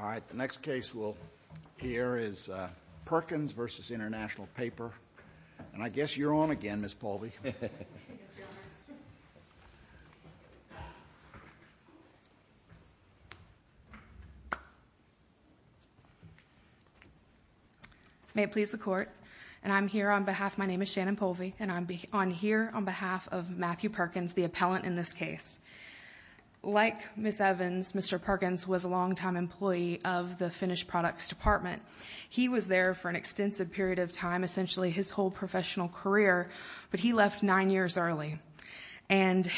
All right, the next case we'll hear is Perkins v. International Paper. And I guess you're on again, Ms. Polvey. May it please the Court. I'm here on behalf of Matthew Perkins, the appellant in this case. Like Ms. Evans, Mr. Perkins was a longtime employee of the finished products department. He was there for an extensive period of time, essentially his whole professional career, but he left nine years early. And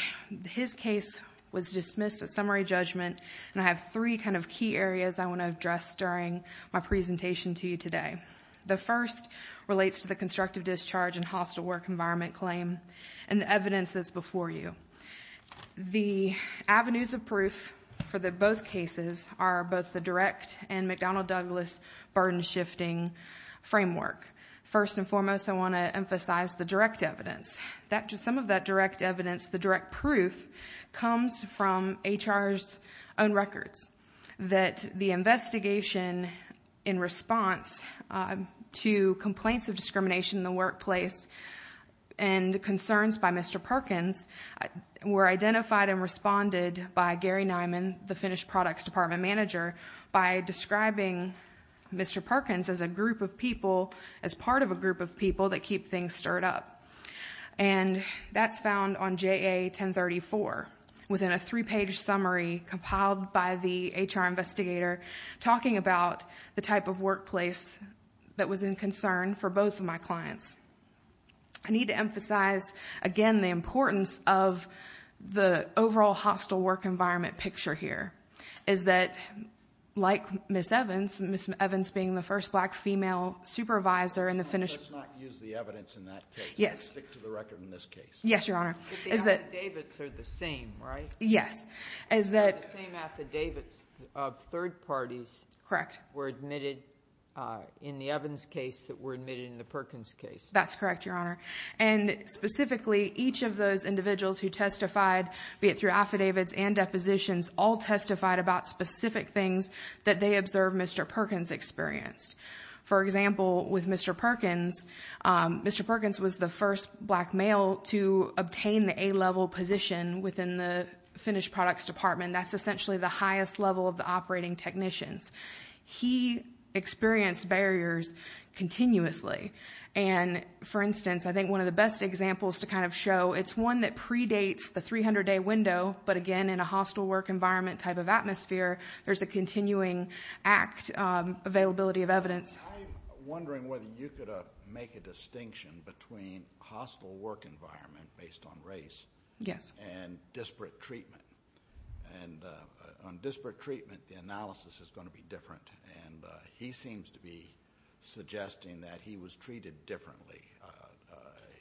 his case was dismissed at summary judgment. And I have three kind of key areas I want to address during my presentation to you today. The first relates to the constructive discharge and hostile work environment claim and the evidence that's before you. The avenues of proof for both cases are both the direct and McDonnell Douglas burden-shifting framework. First and foremost, I want to emphasize the direct evidence. Some of that direct evidence, the direct proof, comes from HR's own records. That the investigation in response to complaints of discrimination in the workplace and concerns by Mr. Perkins were identified and responded by Gary Nyman, the finished products department manager, by describing Mr. Perkins as a group of people, as part of a group of people that keep things stirred up. And that's found on JA 1034, within a three-page summary compiled by the HR investigator, talking about the type of workplace that was in concern for both of my clients. I need to emphasize, again, the importance of the overall hostile work environment picture here, is that, like Ms. Evans, Ms. Evans being the first black female supervisor in the finished... Let's not use the evidence in that case. Stick to the record in this case. Yes, Your Honor. But the affidavits are the same, right? Yes. The same affidavits of third parties were admitted in the Evans case that were admitted in the Perkins case. That's correct, Your Honor. And specifically, each of those individuals who testified, be it through affidavits and depositions, all testified about specific things that they observed Mr. Perkins experienced. For example, with Mr. Perkins, Mr. Perkins was the first black male to obtain the A-level position within the finished products department. That's essentially the highest level of the operating technicians. He experienced barriers continuously. And, for instance, I think one of the best examples to kind of show, it's one that predates the 300-day window, but, again, in a hostile work environment type of atmosphere, there's a continuing act availability of evidence. I'm wondering whether you could make a distinction between hostile work environment based on race... Yes. ...and disparate treatment. And on disparate treatment, the analysis is going to be different, and he seems to be suggesting that he was treated differently.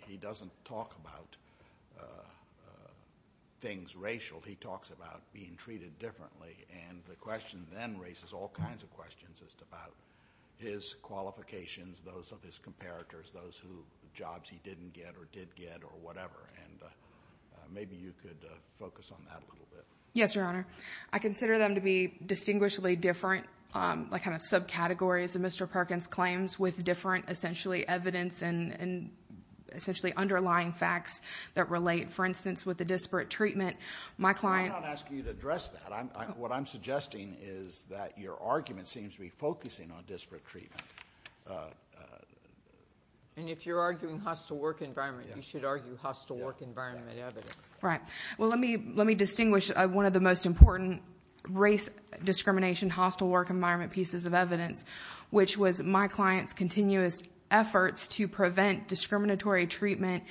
He doesn't talk about things racial. He talks about being treated differently, and the question then raises all kinds of questions just about his qualifications, those of his comparators, those jobs he didn't get or did get or whatever. And maybe you could focus on that a little bit. Yes, Your Honor. I consider them to be distinguishably different, like kind of subcategories of Mr. Perkins' claims with different essentially evidence and essentially underlying facts that relate. Like, for instance, with the disparate treatment, my client... I'm not asking you to address that. What I'm suggesting is that your argument seems to be focusing on disparate treatment. And if you're arguing hostile work environment, you should argue hostile work environment evidence. Right. Well, let me distinguish one of the most important race discrimination, hostile work environment pieces of evidence, which was my client's continuous efforts to prevent discriminatory treatment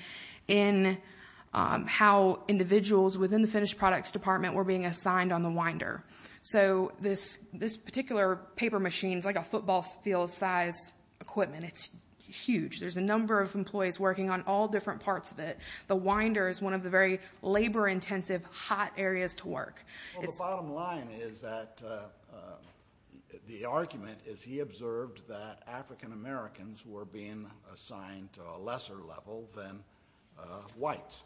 in how individuals within the finished products department were being assigned on the winder. So this particular paper machine is like a football field-sized equipment. It's huge. There's a number of employees working on all different parts of it. The winder is one of the very labor-intensive, hot areas to work. Well, the bottom line is that the argument is he observed that African Americans were being assigned to a lesser level than whites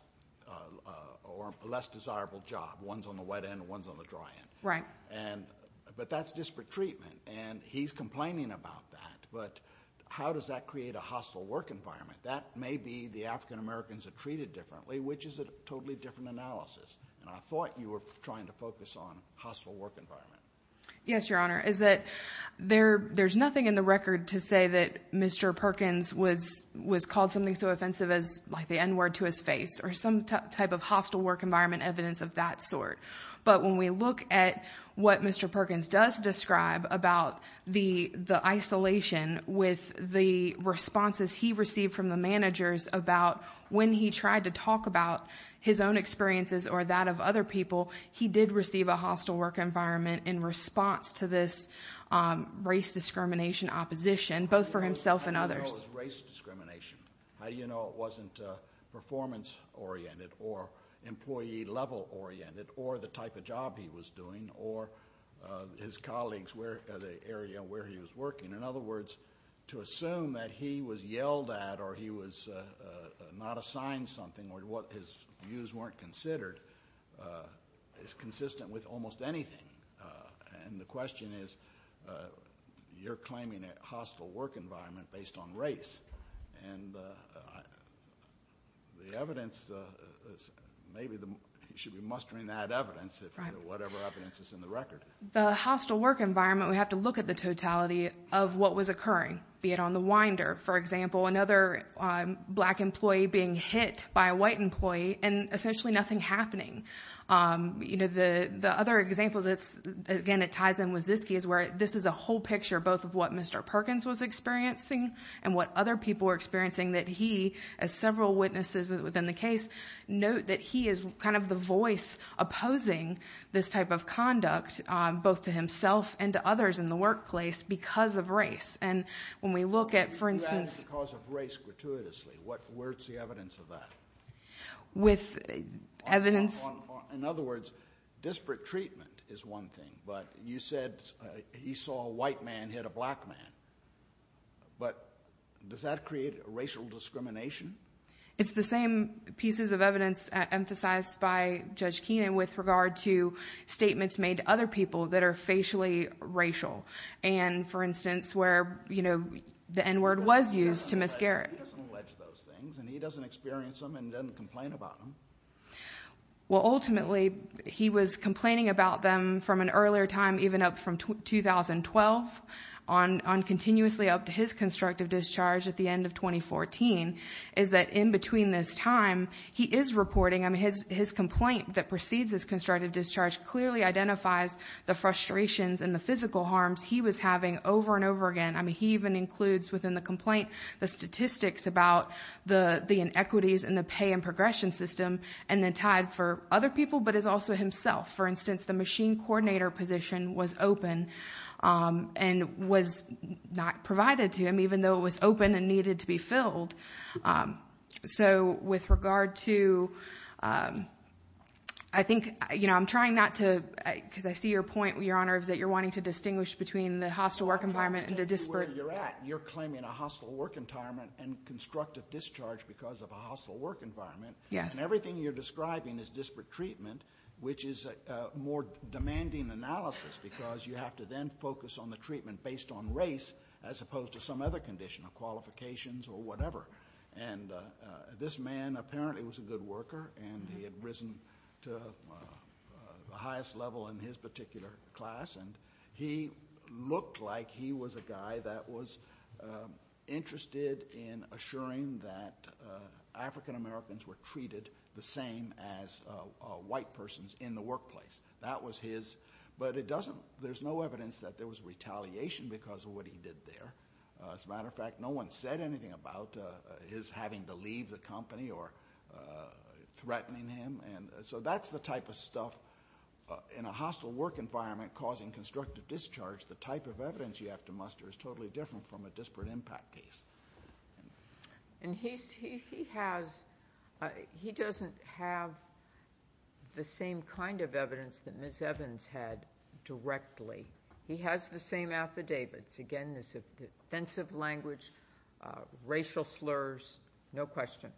or a less desirable job. One's on the wet end and one's on the dry end. Right. But that's disparate treatment, and he's complaining about that. But how does that create a hostile work environment? That may be the African Americans are treated differently, which is a totally different analysis. And I thought you were trying to focus on hostile work environment. Yes, Your Honor. There's nothing in the record to say that Mr. Perkins was called something so offensive as the N-word to his face or some type of hostile work environment evidence of that sort. But when we look at what Mr. Perkins does describe about the isolation with the responses he received from the managers about when he tried to talk about his own experiences or that of other people, he did receive a hostile work environment in response to this race discrimination opposition, both for himself and others. How do you know it was race discrimination? How do you know it wasn't performance-oriented or employee-level oriented or the type of job he was doing or his colleagues, the area where he was working? In other words, to assume that he was yelled at or he was not assigned something or his views weren't considered is consistent with almost anything. And the question is, you're claiming a hostile work environment based on race. And the evidence, maybe you should be mustering that evidence, whatever evidence is in the record. The hostile work environment, we have to look at the totality of what was occurring, be it on the winder. For example, another black employee being hit by a white employee and essentially nothing happening. The other examples, again, it ties in with Ziske's where this is a whole picture, both of what Mr. Perkins was experiencing and what other people were experiencing, that he, as several witnesses within the case, note that he is kind of the voice opposing this type of conduct, both to himself and to others in the workplace because of race. And when we look at, for instance— You do that because of race gratuitously. Where's the evidence of that? With evidence— In other words, disparate treatment is one thing, but you said he saw a white man hit a black man. But does that create racial discrimination? It's the same pieces of evidence emphasized by Judge Keenan with regard to statements made to other people that are facially racial. And, for instance, where the N-word was used to Ms. Garrett. He doesn't allege those things, and he doesn't experience them and doesn't complain about them. Well, ultimately, he was complaining about them from an earlier time, even up from 2012, on continuously up to his constructive discharge at the end of 2014, is that in between this time, he is reporting— that precedes his constructive discharge clearly identifies the frustrations and the physical harms he was having over and over again. I mean, he even includes within the complaint the statistics about the inequities in the pay and progression system and then tied for other people but is also himself. For instance, the machine coordinator position was open and was not provided to him, even though it was open and needed to be filled. So with regard to—I think, you know, I'm trying not to—because I see your point, Your Honor, is that you're wanting to distinguish between the hostile work environment and the disparate— I'm trying to tell you where you're at. You're claiming a hostile work environment and constructive discharge because of a hostile work environment. Yes. And everything you're describing is disparate treatment, which is a more demanding analysis because you have to then focus on the treatment based on race as opposed to some other condition or qualifications or whatever. And this man apparently was a good worker and he had risen to the highest level in his particular class and he looked like he was a guy that was interested in assuring that African Americans were treated the same as white persons in the workplace. That was his—but it doesn't—there's no evidence that there was retaliation because of what he did there. As a matter of fact, no one said anything about his having to leave the company or threatening him. And so that's the type of stuff in a hostile work environment causing constructive discharge, the type of evidence you have to muster is totally different from a disparate impact case. And he has—he doesn't have the same kind of evidence that Ms. Evans had directly. He has the same affidavits. Again, this offensive language, racial slurs, no question.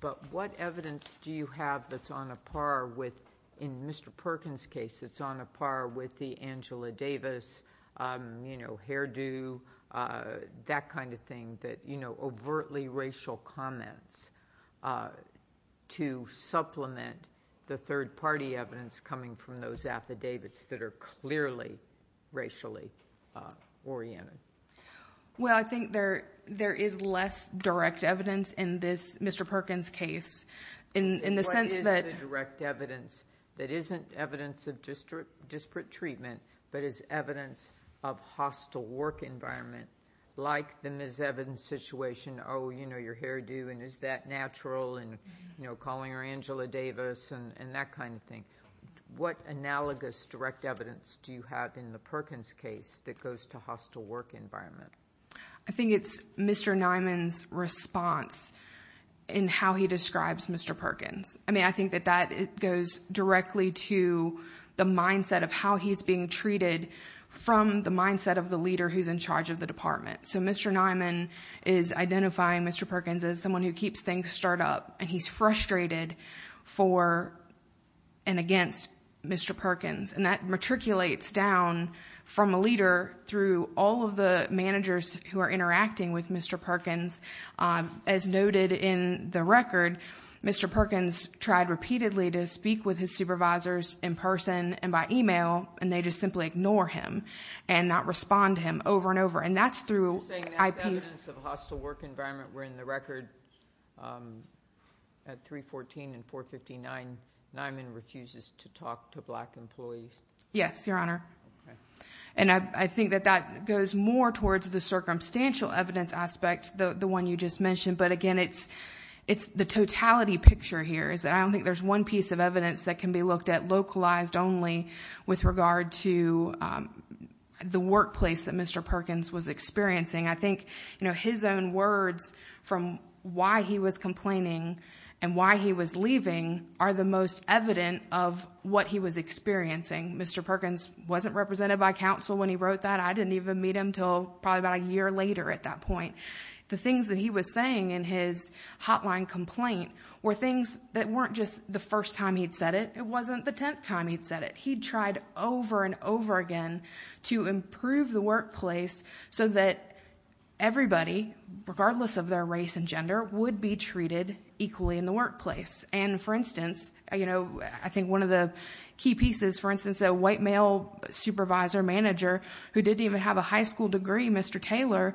But what evidence do you have that's on a par with—in Mr. Perkins' case, it's on a par with the Angela Davis, you know, hairdo, that kind of thing, that, you know, overtly racial comments to supplement the third-party evidence coming from those affidavits that are clearly racially oriented? Well, I think there is less direct evidence in this Mr. Perkins case in the sense that— not as disparate treatment but as evidence of hostile work environment, like the Ms. Evans situation, oh, you know, your hairdo, and is that natural, and, you know, calling her Angela Davis and that kind of thing. What analogous direct evidence do you have in the Perkins case that goes to hostile work environment? I think it's Mr. Nyman's response in how he describes Mr. Perkins. I mean, I think that that goes directly to the mindset of how he's being treated from the mindset of the leader who's in charge of the department. So Mr. Nyman is identifying Mr. Perkins as someone who keeps things stirred up, and he's frustrated for and against Mr. Perkins, and that matriculates down from a leader through all of the managers who are interacting with Mr. Perkins. As noted in the record, Mr. Perkins tried repeatedly to speak with his supervisors in person and by email, and they just simply ignore him and not respond to him over and over, and that's through— You're saying that's evidence of hostile work environment where in the record at 314 and 459, Nyman refuses to talk to black employees? Yes, Your Honor. Okay. And I think that that goes more towards the circumstantial evidence aspect. The one you just mentioned, but again, it's the totality picture here. I don't think there's one piece of evidence that can be looked at localized only with regard to the workplace that Mr. Perkins was experiencing. I think his own words from why he was complaining and why he was leaving are the most evident of what he was experiencing. Mr. Perkins wasn't represented by counsel when he wrote that. I didn't even meet him until probably about a year later at that point. The things that he was saying in his hotline complaint were things that weren't just the first time he'd said it. It wasn't the tenth time he'd said it. He'd tried over and over again to improve the workplace so that everybody, regardless of their race and gender, would be treated equally in the workplace. And, for instance, I think one of the key pieces, for instance, a white male supervisor manager who didn't even have a high school degree, Mr. Taylor,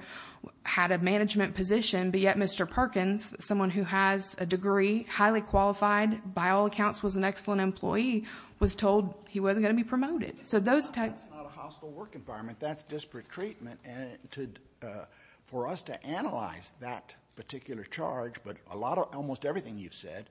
had a management position, but yet Mr. Perkins, someone who has a degree, highly qualified, by all accounts was an excellent employee, was told he wasn't going to be promoted. That's not a hostile work environment. That's disparate treatment. For us to analyze that particular charge, but almost everything you've said,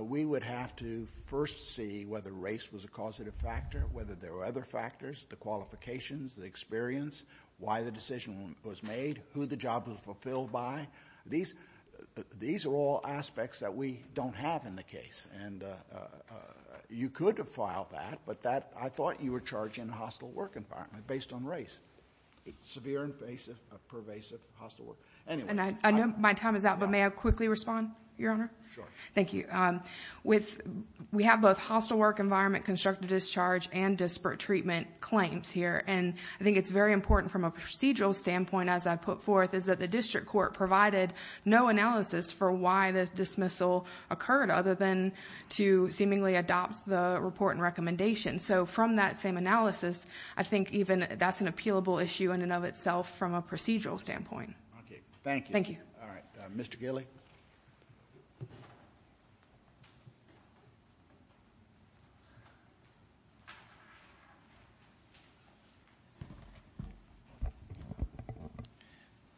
we would have to first see whether race was a causative factor, whether there were other factors, the qualifications, the experience, why the decision was made, who the job was fulfilled by. These are all aspects that we don't have in the case, and you could have filed that, but I thought you were charging a hostile work environment based on race, severe and pervasive hostile work. I know my time is up, but may I quickly respond, Your Honor? Sure. Thank you. We have both hostile work environment, constructive discharge, and disparate treatment claims here, and I think it's very important from a procedural standpoint, as I put forth, is that the district court provided no analysis for why the dismissal occurred, other than to seemingly adopt the report and recommendation. So from that same analysis, I think even that's an appealable issue in and of itself from a procedural standpoint. Okay. Thank you. Thank you. All right. Mr. Gilley.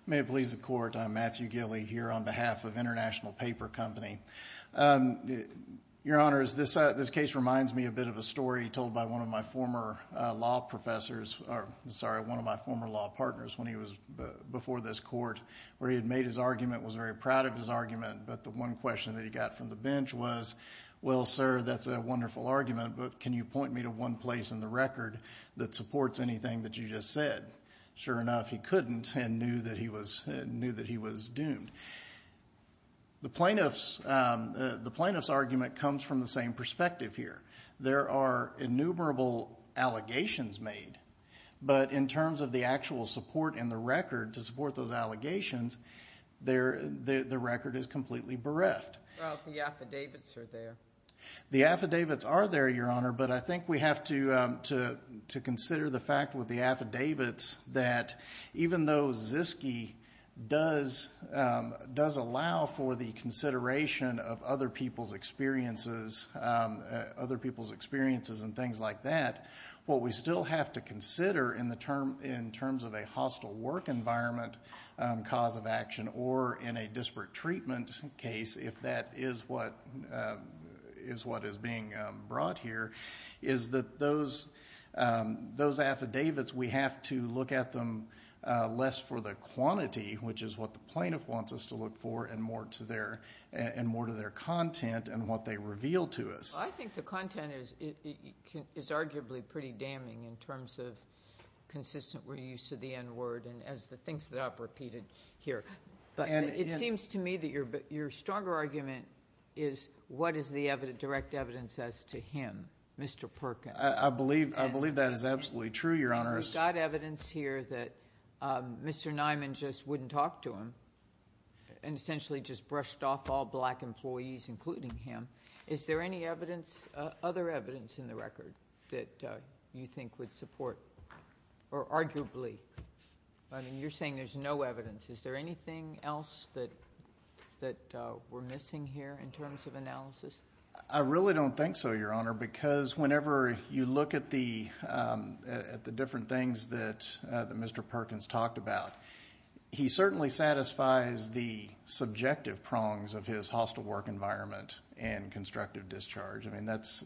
May it please the Court, I'm Matthew Gilley here on behalf of International Paper Company. Your Honor, this case reminds me a bit of a story told by one of my former law professors, sorry, one of my former law partners when he was before this court, where he had made his argument, was very proud of his argument, but the one question that he got from the bench was, well, sir, that's a wonderful argument, but can you point me to one place in the record that supports anything that you just said? Sure enough, he couldn't and knew that he was doomed. The plaintiff's argument comes from the same perspective here. There are innumerable allegations made, but in terms of the actual support in the record to support those allegations, the record is completely bereft. Well, the affidavits are there. The affidavits are there, Your Honor, but I think we have to consider the fact with the affidavits that even though Ziske does allow for the consideration of other people's experiences and things like that, what we still have to consider in terms of a hostile work environment cause of action or in a disparate treatment case, if that is what is being brought here, is that those affidavits, we have to look at them less for the quantity, which is what the plaintiff wants us to look for, and more to their content and what they reveal to us. Well, I think the content is arguably pretty damning in terms of consistent reuse of the N-word and as the things that I've repeated here, but it seems to me that your stronger argument is what is the direct evidence as to him, Mr. Perkins? We've got evidence here that Mr. Niman just wouldn't talk to him and essentially just brushed off all black employees, including him. Is there any other evidence in the record that you think would support, or arguably? I mean, you're saying there's no evidence. Is there anything else that we're missing here in terms of analysis? I really don't think so, Your Honor, because whenever you look at the different things that Mr. Perkins talked about, he certainly satisfies the subjective prongs of his hostile work environment and constructive discharge. I mean, that's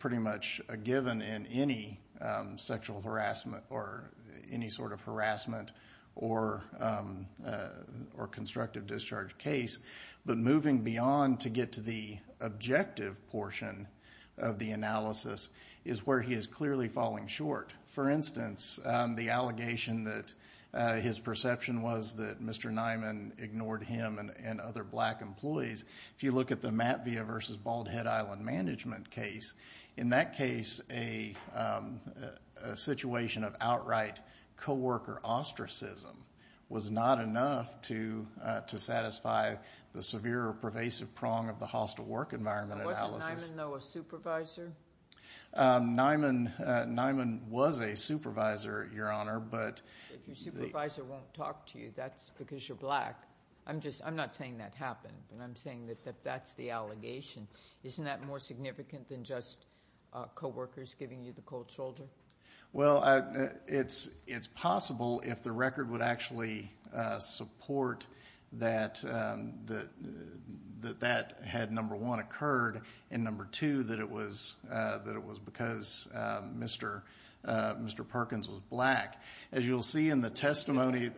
pretty much a given in any sexual harassment or any sort of harassment or constructive discharge case. But moving beyond to get to the objective portion of the analysis is where he is clearly falling short. For instance, the allegation that his perception was that Mr. Niman ignored him and other black employees, if you look at the Matvea v. Bald Head Island management case, in that case a situation of outright co-worker ostracism was not enough to satisfy the severe or pervasive prong of the hostile work environment analysis. Wasn't Niman, though, a supervisor? Niman was a supervisor, Your Honor, but— If your supervisor won't talk to you, that's because you're black. I'm not saying that happened, and I'm saying that that's the allegation. Isn't that more significant than just co-workers giving you the cold shoulder? Well, it's possible if the record would actually support that that had, number one, occurred, and, number two, that it was because Mr. Perkins was black. As you'll see in the testimony—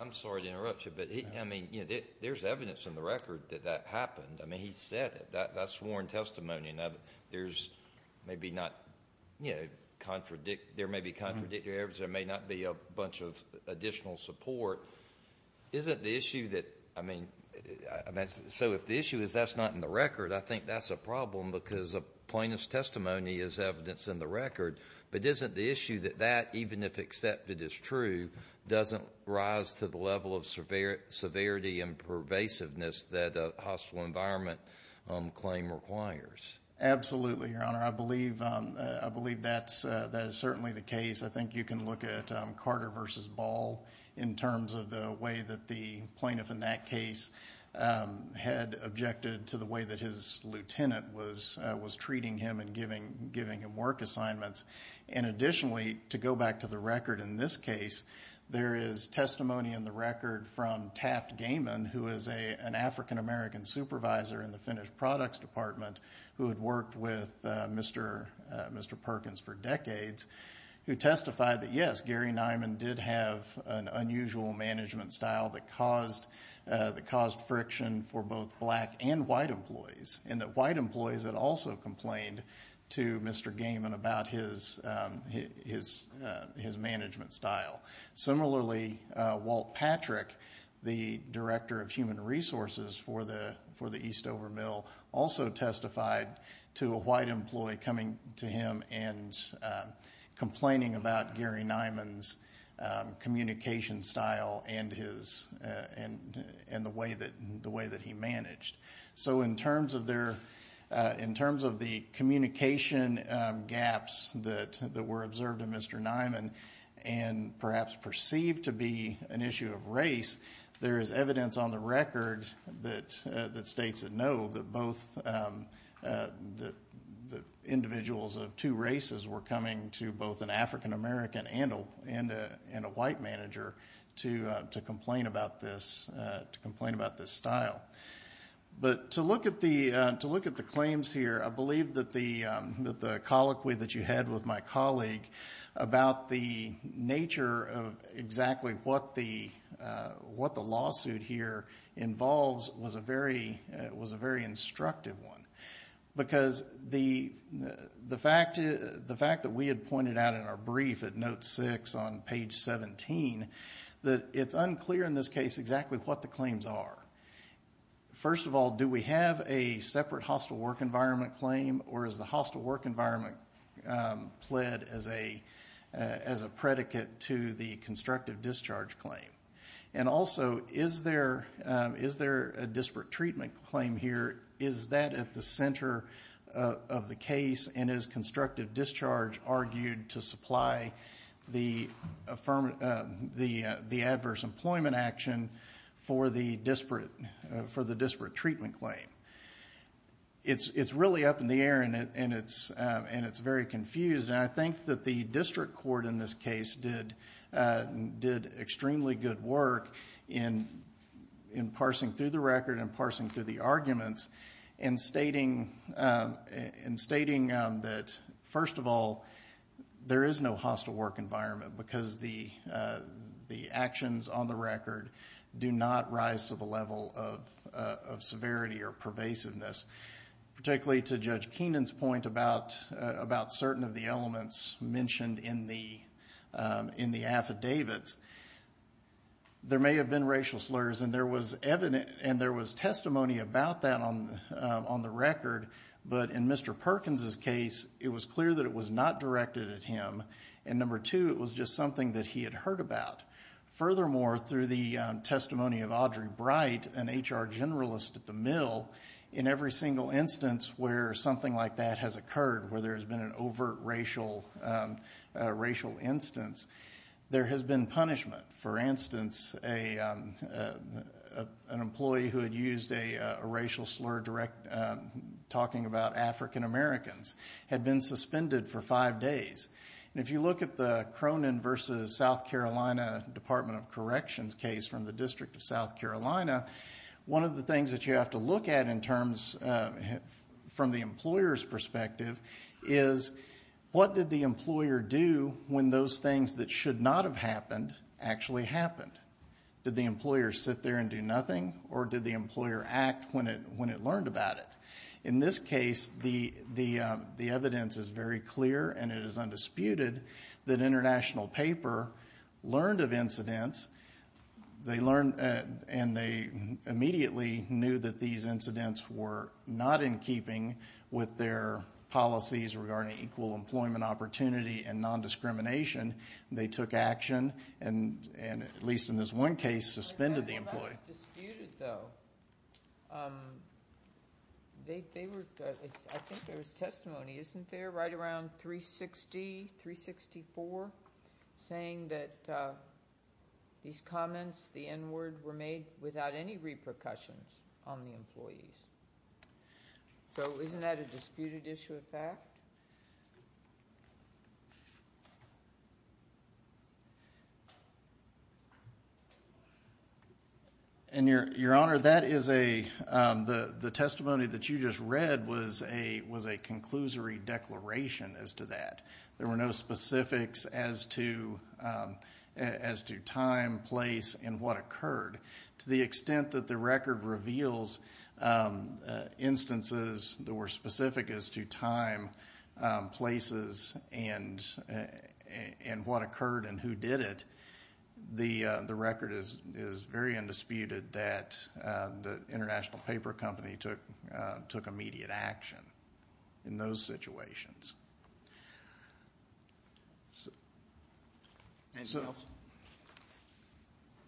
I'm sorry to interrupt you, but there's evidence in the record that that happened. I mean, he said it. That's sworn testimony. Now, there may be contradictory evidence. There may not be a bunch of additional support. Isn't the issue that—I mean, so if the issue is that's not in the record, I think that's a problem because a plaintiff's testimony is evidence in the record. But isn't the issue that that, even if accepted as true, doesn't rise to the level of severity and pervasiveness that a hostile environment claim requires? Absolutely, Your Honor. I believe that is certainly the case. I think you can look at Carter v. Ball in terms of the way that the plaintiff in that case had objected to the way that his lieutenant was treating him and giving him work assignments. And additionally, to go back to the record in this case, there is testimony in the record from Taft Gaiman, who is an African-American supervisor in the Finnish Products Department who had worked with Mr. Perkins for decades, who testified that, yes, Gary Nyman did have an unusual management style that caused friction for both black and white employees, and that white employees had also complained to Mr. Gaiman about his management style. Similarly, Walt Patrick, the Director of Human Resources for the Eastover Mill, also testified to a white employee coming to him and complaining about Gary Nyman's communication style and the way that he managed. So in terms of the communication gaps that were observed in Mr. Nyman and perhaps perceived to be an issue of race, there is evidence on the record that states that both individuals of two races were coming to both an African-American and a white manager to complain about this style. But to look at the claims here, I believe that the colloquy that you had with my colleague about the nature of exactly what the lawsuit here involves was a very instructive one. Because the fact that we had pointed out in our brief at note 6 on page 17 that it's unclear in this case exactly what the claims are. First of all, do we have a separate hostile work environment claim, or is the hostile work environment pled as a predicate to the constructive discharge claim? And also, is there a disparate treatment claim here? Is that at the center of the case, and is constructive discharge argued to supply the adverse employment action for the disparate treatment claim? It's really up in the air, and it's very confused. And I think that the district court in this case did extremely good work in parsing through the record and parsing through the arguments in stating that, first of all, there is no hostile work environment because the actions on the record do not rise to the level of severity or pervasiveness, particularly to Judge Keenan's point about certain of the elements mentioned in the affidavits. There may have been racial slurs, and there was testimony about that on the record, but in Mr. Perkins's case, it was clear that it was not directed at him, and number two, it was just something that he had heard about. Furthermore, through the testimony of Audrey Bright, an HR generalist at the mill, in every single instance where something like that has occurred, where there has been an overt racial instance, there has been punishment. For instance, an employee who had used a racial slur talking about African Americans had been suspended for five days. If you look at the Cronin v. South Carolina Department of Corrections case from the District of South Carolina, one of the things that you have to look at from the employer's perspective is what did the employer do when those things that should not have happened actually happened. Did the employer sit there and do nothing, or did the employer act when it learned about it? In this case, the evidence is very clear, and it is undisputed, that International Paper learned of incidents, and they immediately knew that these incidents were not in keeping with their policies regarding equal employment opportunity and nondiscrimination. They took action, and at least in this one case, suspended the employee. It's not disputed, though. I think there was testimony, isn't there, right around 360, 364, saying that these comments, the N word, were made without any repercussions on the employees. Isn't that a disputed issue of fact? Your Honor, the testimony that you just read was a conclusory declaration as to that. There were no specifics as to time, place, and what occurred. To the extent that the record reveals instances that were specific as to time, places, and what occurred and who did it, the record is very undisputed that the International Paper Company took immediate action in those situations. Anything else?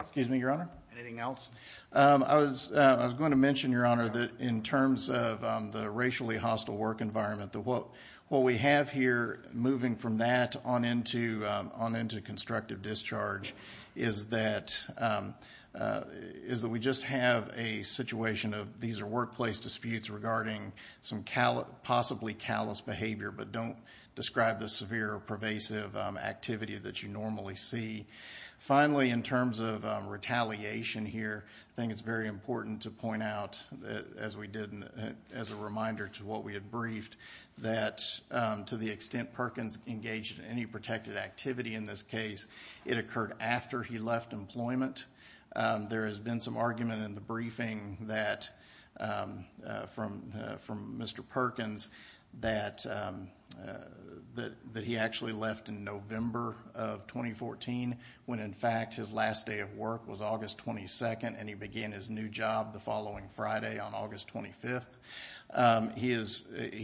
Excuse me, Your Honor? Anything else? I was going to mention, Your Honor, that in terms of the racially hostile work environment, that what we have here moving from that on into constructive discharge is that we just have a situation of these are workplace disputes regarding some possibly callous behavior, but don't describe the severe or pervasive activity that you normally see. Finally, in terms of retaliation here, I think it's very important to point out, as we did as a reminder to what we had briefed, that to the extent Perkins engaged in any protected activity in this case, it occurred after he left employment. There has been some argument in the briefing from Mr. Perkins that he actually left in November of 2014 when, in fact, his last day of work was August 22nd and he began his new job the following Friday on August 25th. He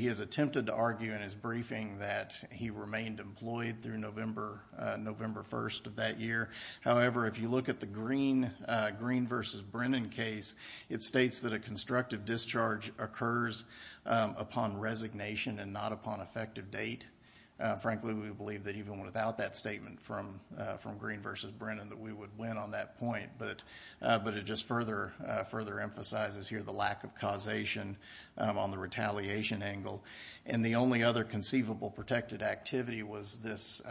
has attempted to argue in his briefing that he remained employed through November 1st of that year. However, if you look at the Green v. Brennan case, it states that a constructive discharge occurs upon resignation and not upon effective date. Frankly, we believe that even without that statement from Green v. Brennan that we would win on that point, but it just further emphasizes here the lack of causation on the retaliation angle. The only other conceivable protected activity was this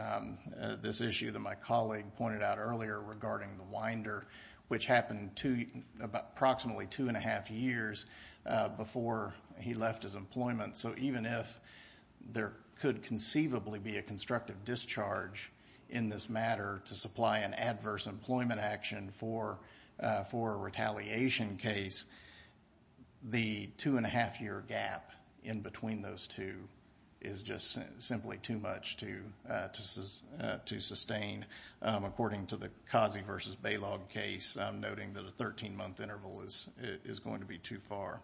issue that my colleague pointed out earlier regarding the winder, which happened approximately two and a half years before he left his employment. Even if there could conceivably be a constructive discharge in this matter to supply an adverse employment action for a retaliation case, the two-and-a-half-year gap in between those two is just simply too much to sustain. According to the Kazi v. Balogh case, I'm noting that a 13-month interval is going to be too far.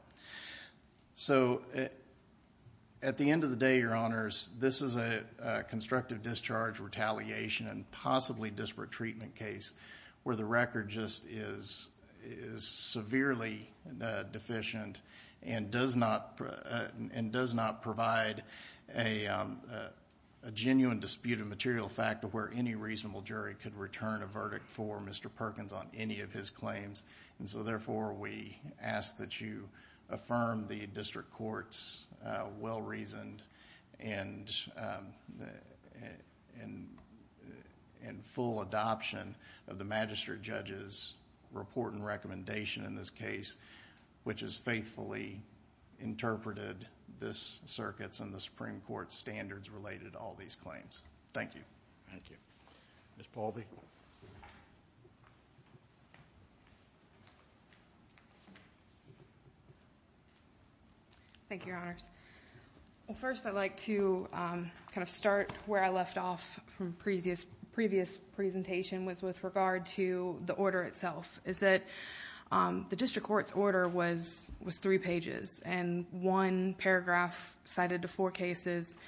At the end of the day, Your Honors, this is a constructive discharge, retaliation, and possibly disparate treatment case where the record just is severely deficient and does not provide a genuine dispute of material fact of where any reasonable jury could return a verdict for Mr. Perkins on any of his claims. Therefore, we ask that you affirm the district court's well-reasoned and full adoption of the magistrate judge's report and recommendation in this case, which has faithfully interpreted this circuit's and the Supreme Court's standards related to all these claims. Thank you. Thank you. Ms. Paulvey? Thank you, Your Honors. First, I'd like to start where I left off from the previous presentation, which was with regard to the order itself. The district court's order was three pages, and one paragraph cited the four cases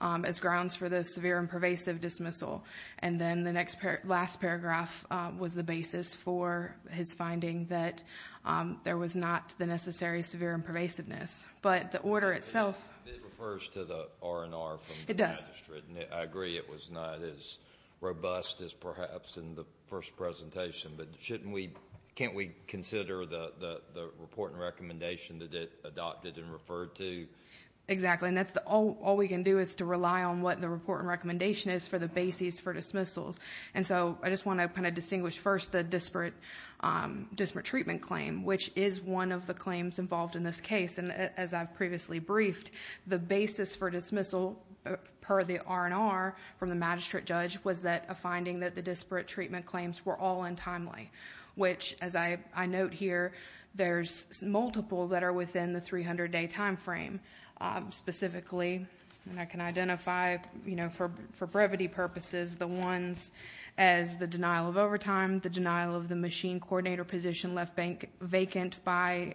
as grounds for the severe and pervasive dismissal, and then the last paragraph was the basis for his finding that there was not the necessary severe and pervasiveness. But the order itself— It refers to the R&R from the magistrate. It does. I agree it was not as robust as perhaps in the first presentation, but can't we consider the report and recommendation that it adopted and referred to? Exactly, and all we can do is to rely on what the report and recommendation is for the basis for dismissals. And so I just want to kind of distinguish first the disparate treatment claim, which is one of the claims involved in this case. And as I've previously briefed, the basis for dismissal per the R&R from the magistrate judge was a finding that the disparate treatment claims were all untimely, which, as I note here, there's multiple that are within the 300-day time frame. Specifically, and I can identify for brevity purposes, the ones as the denial of overtime, the denial of the machine coordinator position left vacant by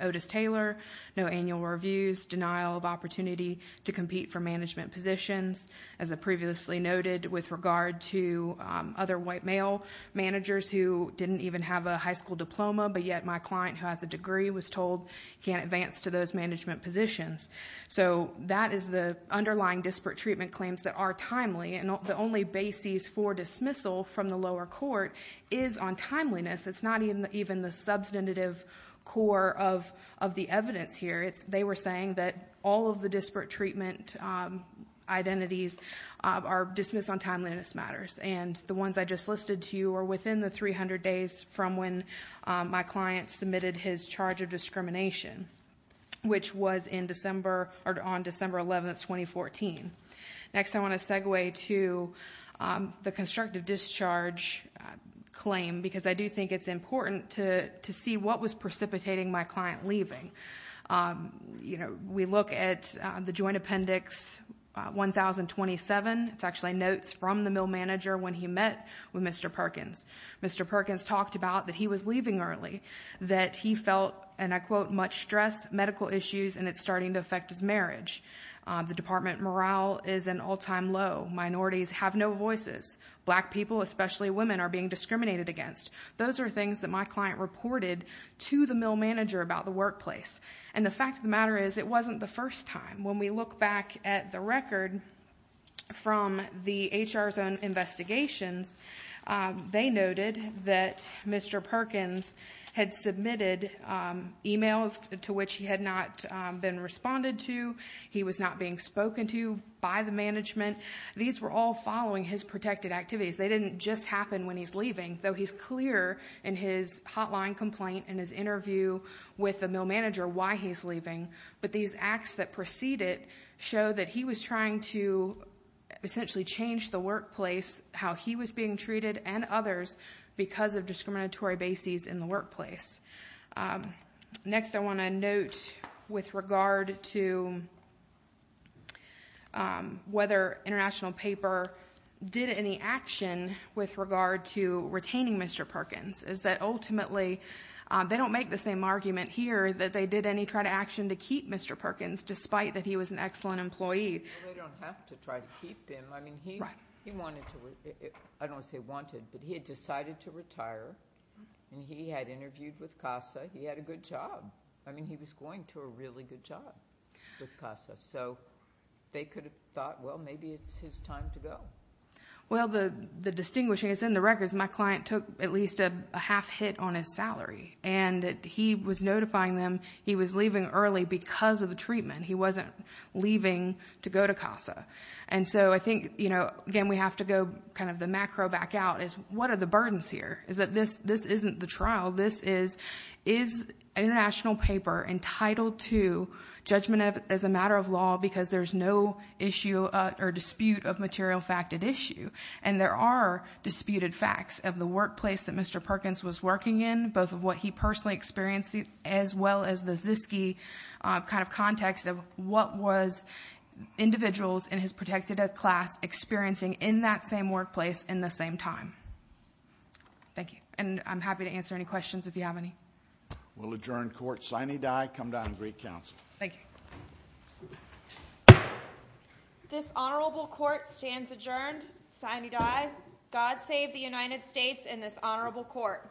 Otis Taylor, no annual reviews, denial of opportunity to compete for management positions. As I previously noted with regard to other white male managers who didn't even have a high school diploma, but yet my client who has a degree was told he can't advance to those management positions. So that is the underlying disparate treatment claims that are timely, and the only basis for dismissal from the lower court is on timeliness. It's not even the substantive core of the evidence here. They were saying that all of the disparate treatment identities are dismissed on timeliness matters, and the ones I just listed to you are within the 300 days from when my client submitted his charge of discrimination, which was on December 11, 2014. Next, I want to segue to the constructive discharge claim because I do think it's important to see what was precipitating my client leaving. We look at the Joint Appendix 1027. It's actually notes from the male manager when he met with Mr. Perkins. Mr. Perkins talked about that he was leaving early, that he felt, and I quote, much stress, medical issues, and it's starting to affect his marriage. The department morale is at an all-time low. Minorities have no voices. Black people, especially women, are being discriminated against. Those are things that my client reported to the male manager about the workplace, and the fact of the matter is it wasn't the first time. When we look back at the record from the HR zone investigations, they noted that Mr. Perkins had submitted emails to which he had not been responded to. He was not being spoken to by the management. These were all following his protected activities. They didn't just happen when he's leaving, though he's clear in his hotline complaint and his interview with the male manager why he's leaving, but these acts that preceded show that he was trying to essentially change the workplace, how he was being treated and others because of discriminatory bases in the workplace. Next, I want to note with regard to whether International Paper did any action with regard to retaining Mr. Perkins, is that ultimately they don't make the same argument here that they did any try to action to keep Mr. Perkins, despite that he was an excellent employee. They don't have to try to keep him. I don't want to say wanted, but he had decided to retire, and he had interviewed with CASA. He had a good job. He was going to a really good job with CASA, so they could have thought, well, maybe it's his time to go. Well, the distinguishing is in the records. My client took at least a half hit on his salary, and he was notifying them he was leaving early because of the treatment. He wasn't leaving to go to CASA, and so I think, again, we have to go kind of the macro back out is what are the burdens here? Is International Paper entitled to judgment as a matter of law because there's no issue or dispute of material fact at issue? And there are disputed facts of the workplace that Mr. Perkins was working in, both of what he personally experienced, as well as the ZISKY kind of context of what was individuals in his protected class experiencing in that same workplace in the same time? Thank you, and I'm happy to answer any questions if you have any. We'll adjourn court. Sine die. Come down and greet counsel. Thank you. This honorable court stands adjourned. Sine die. God save the United States and this honorable court.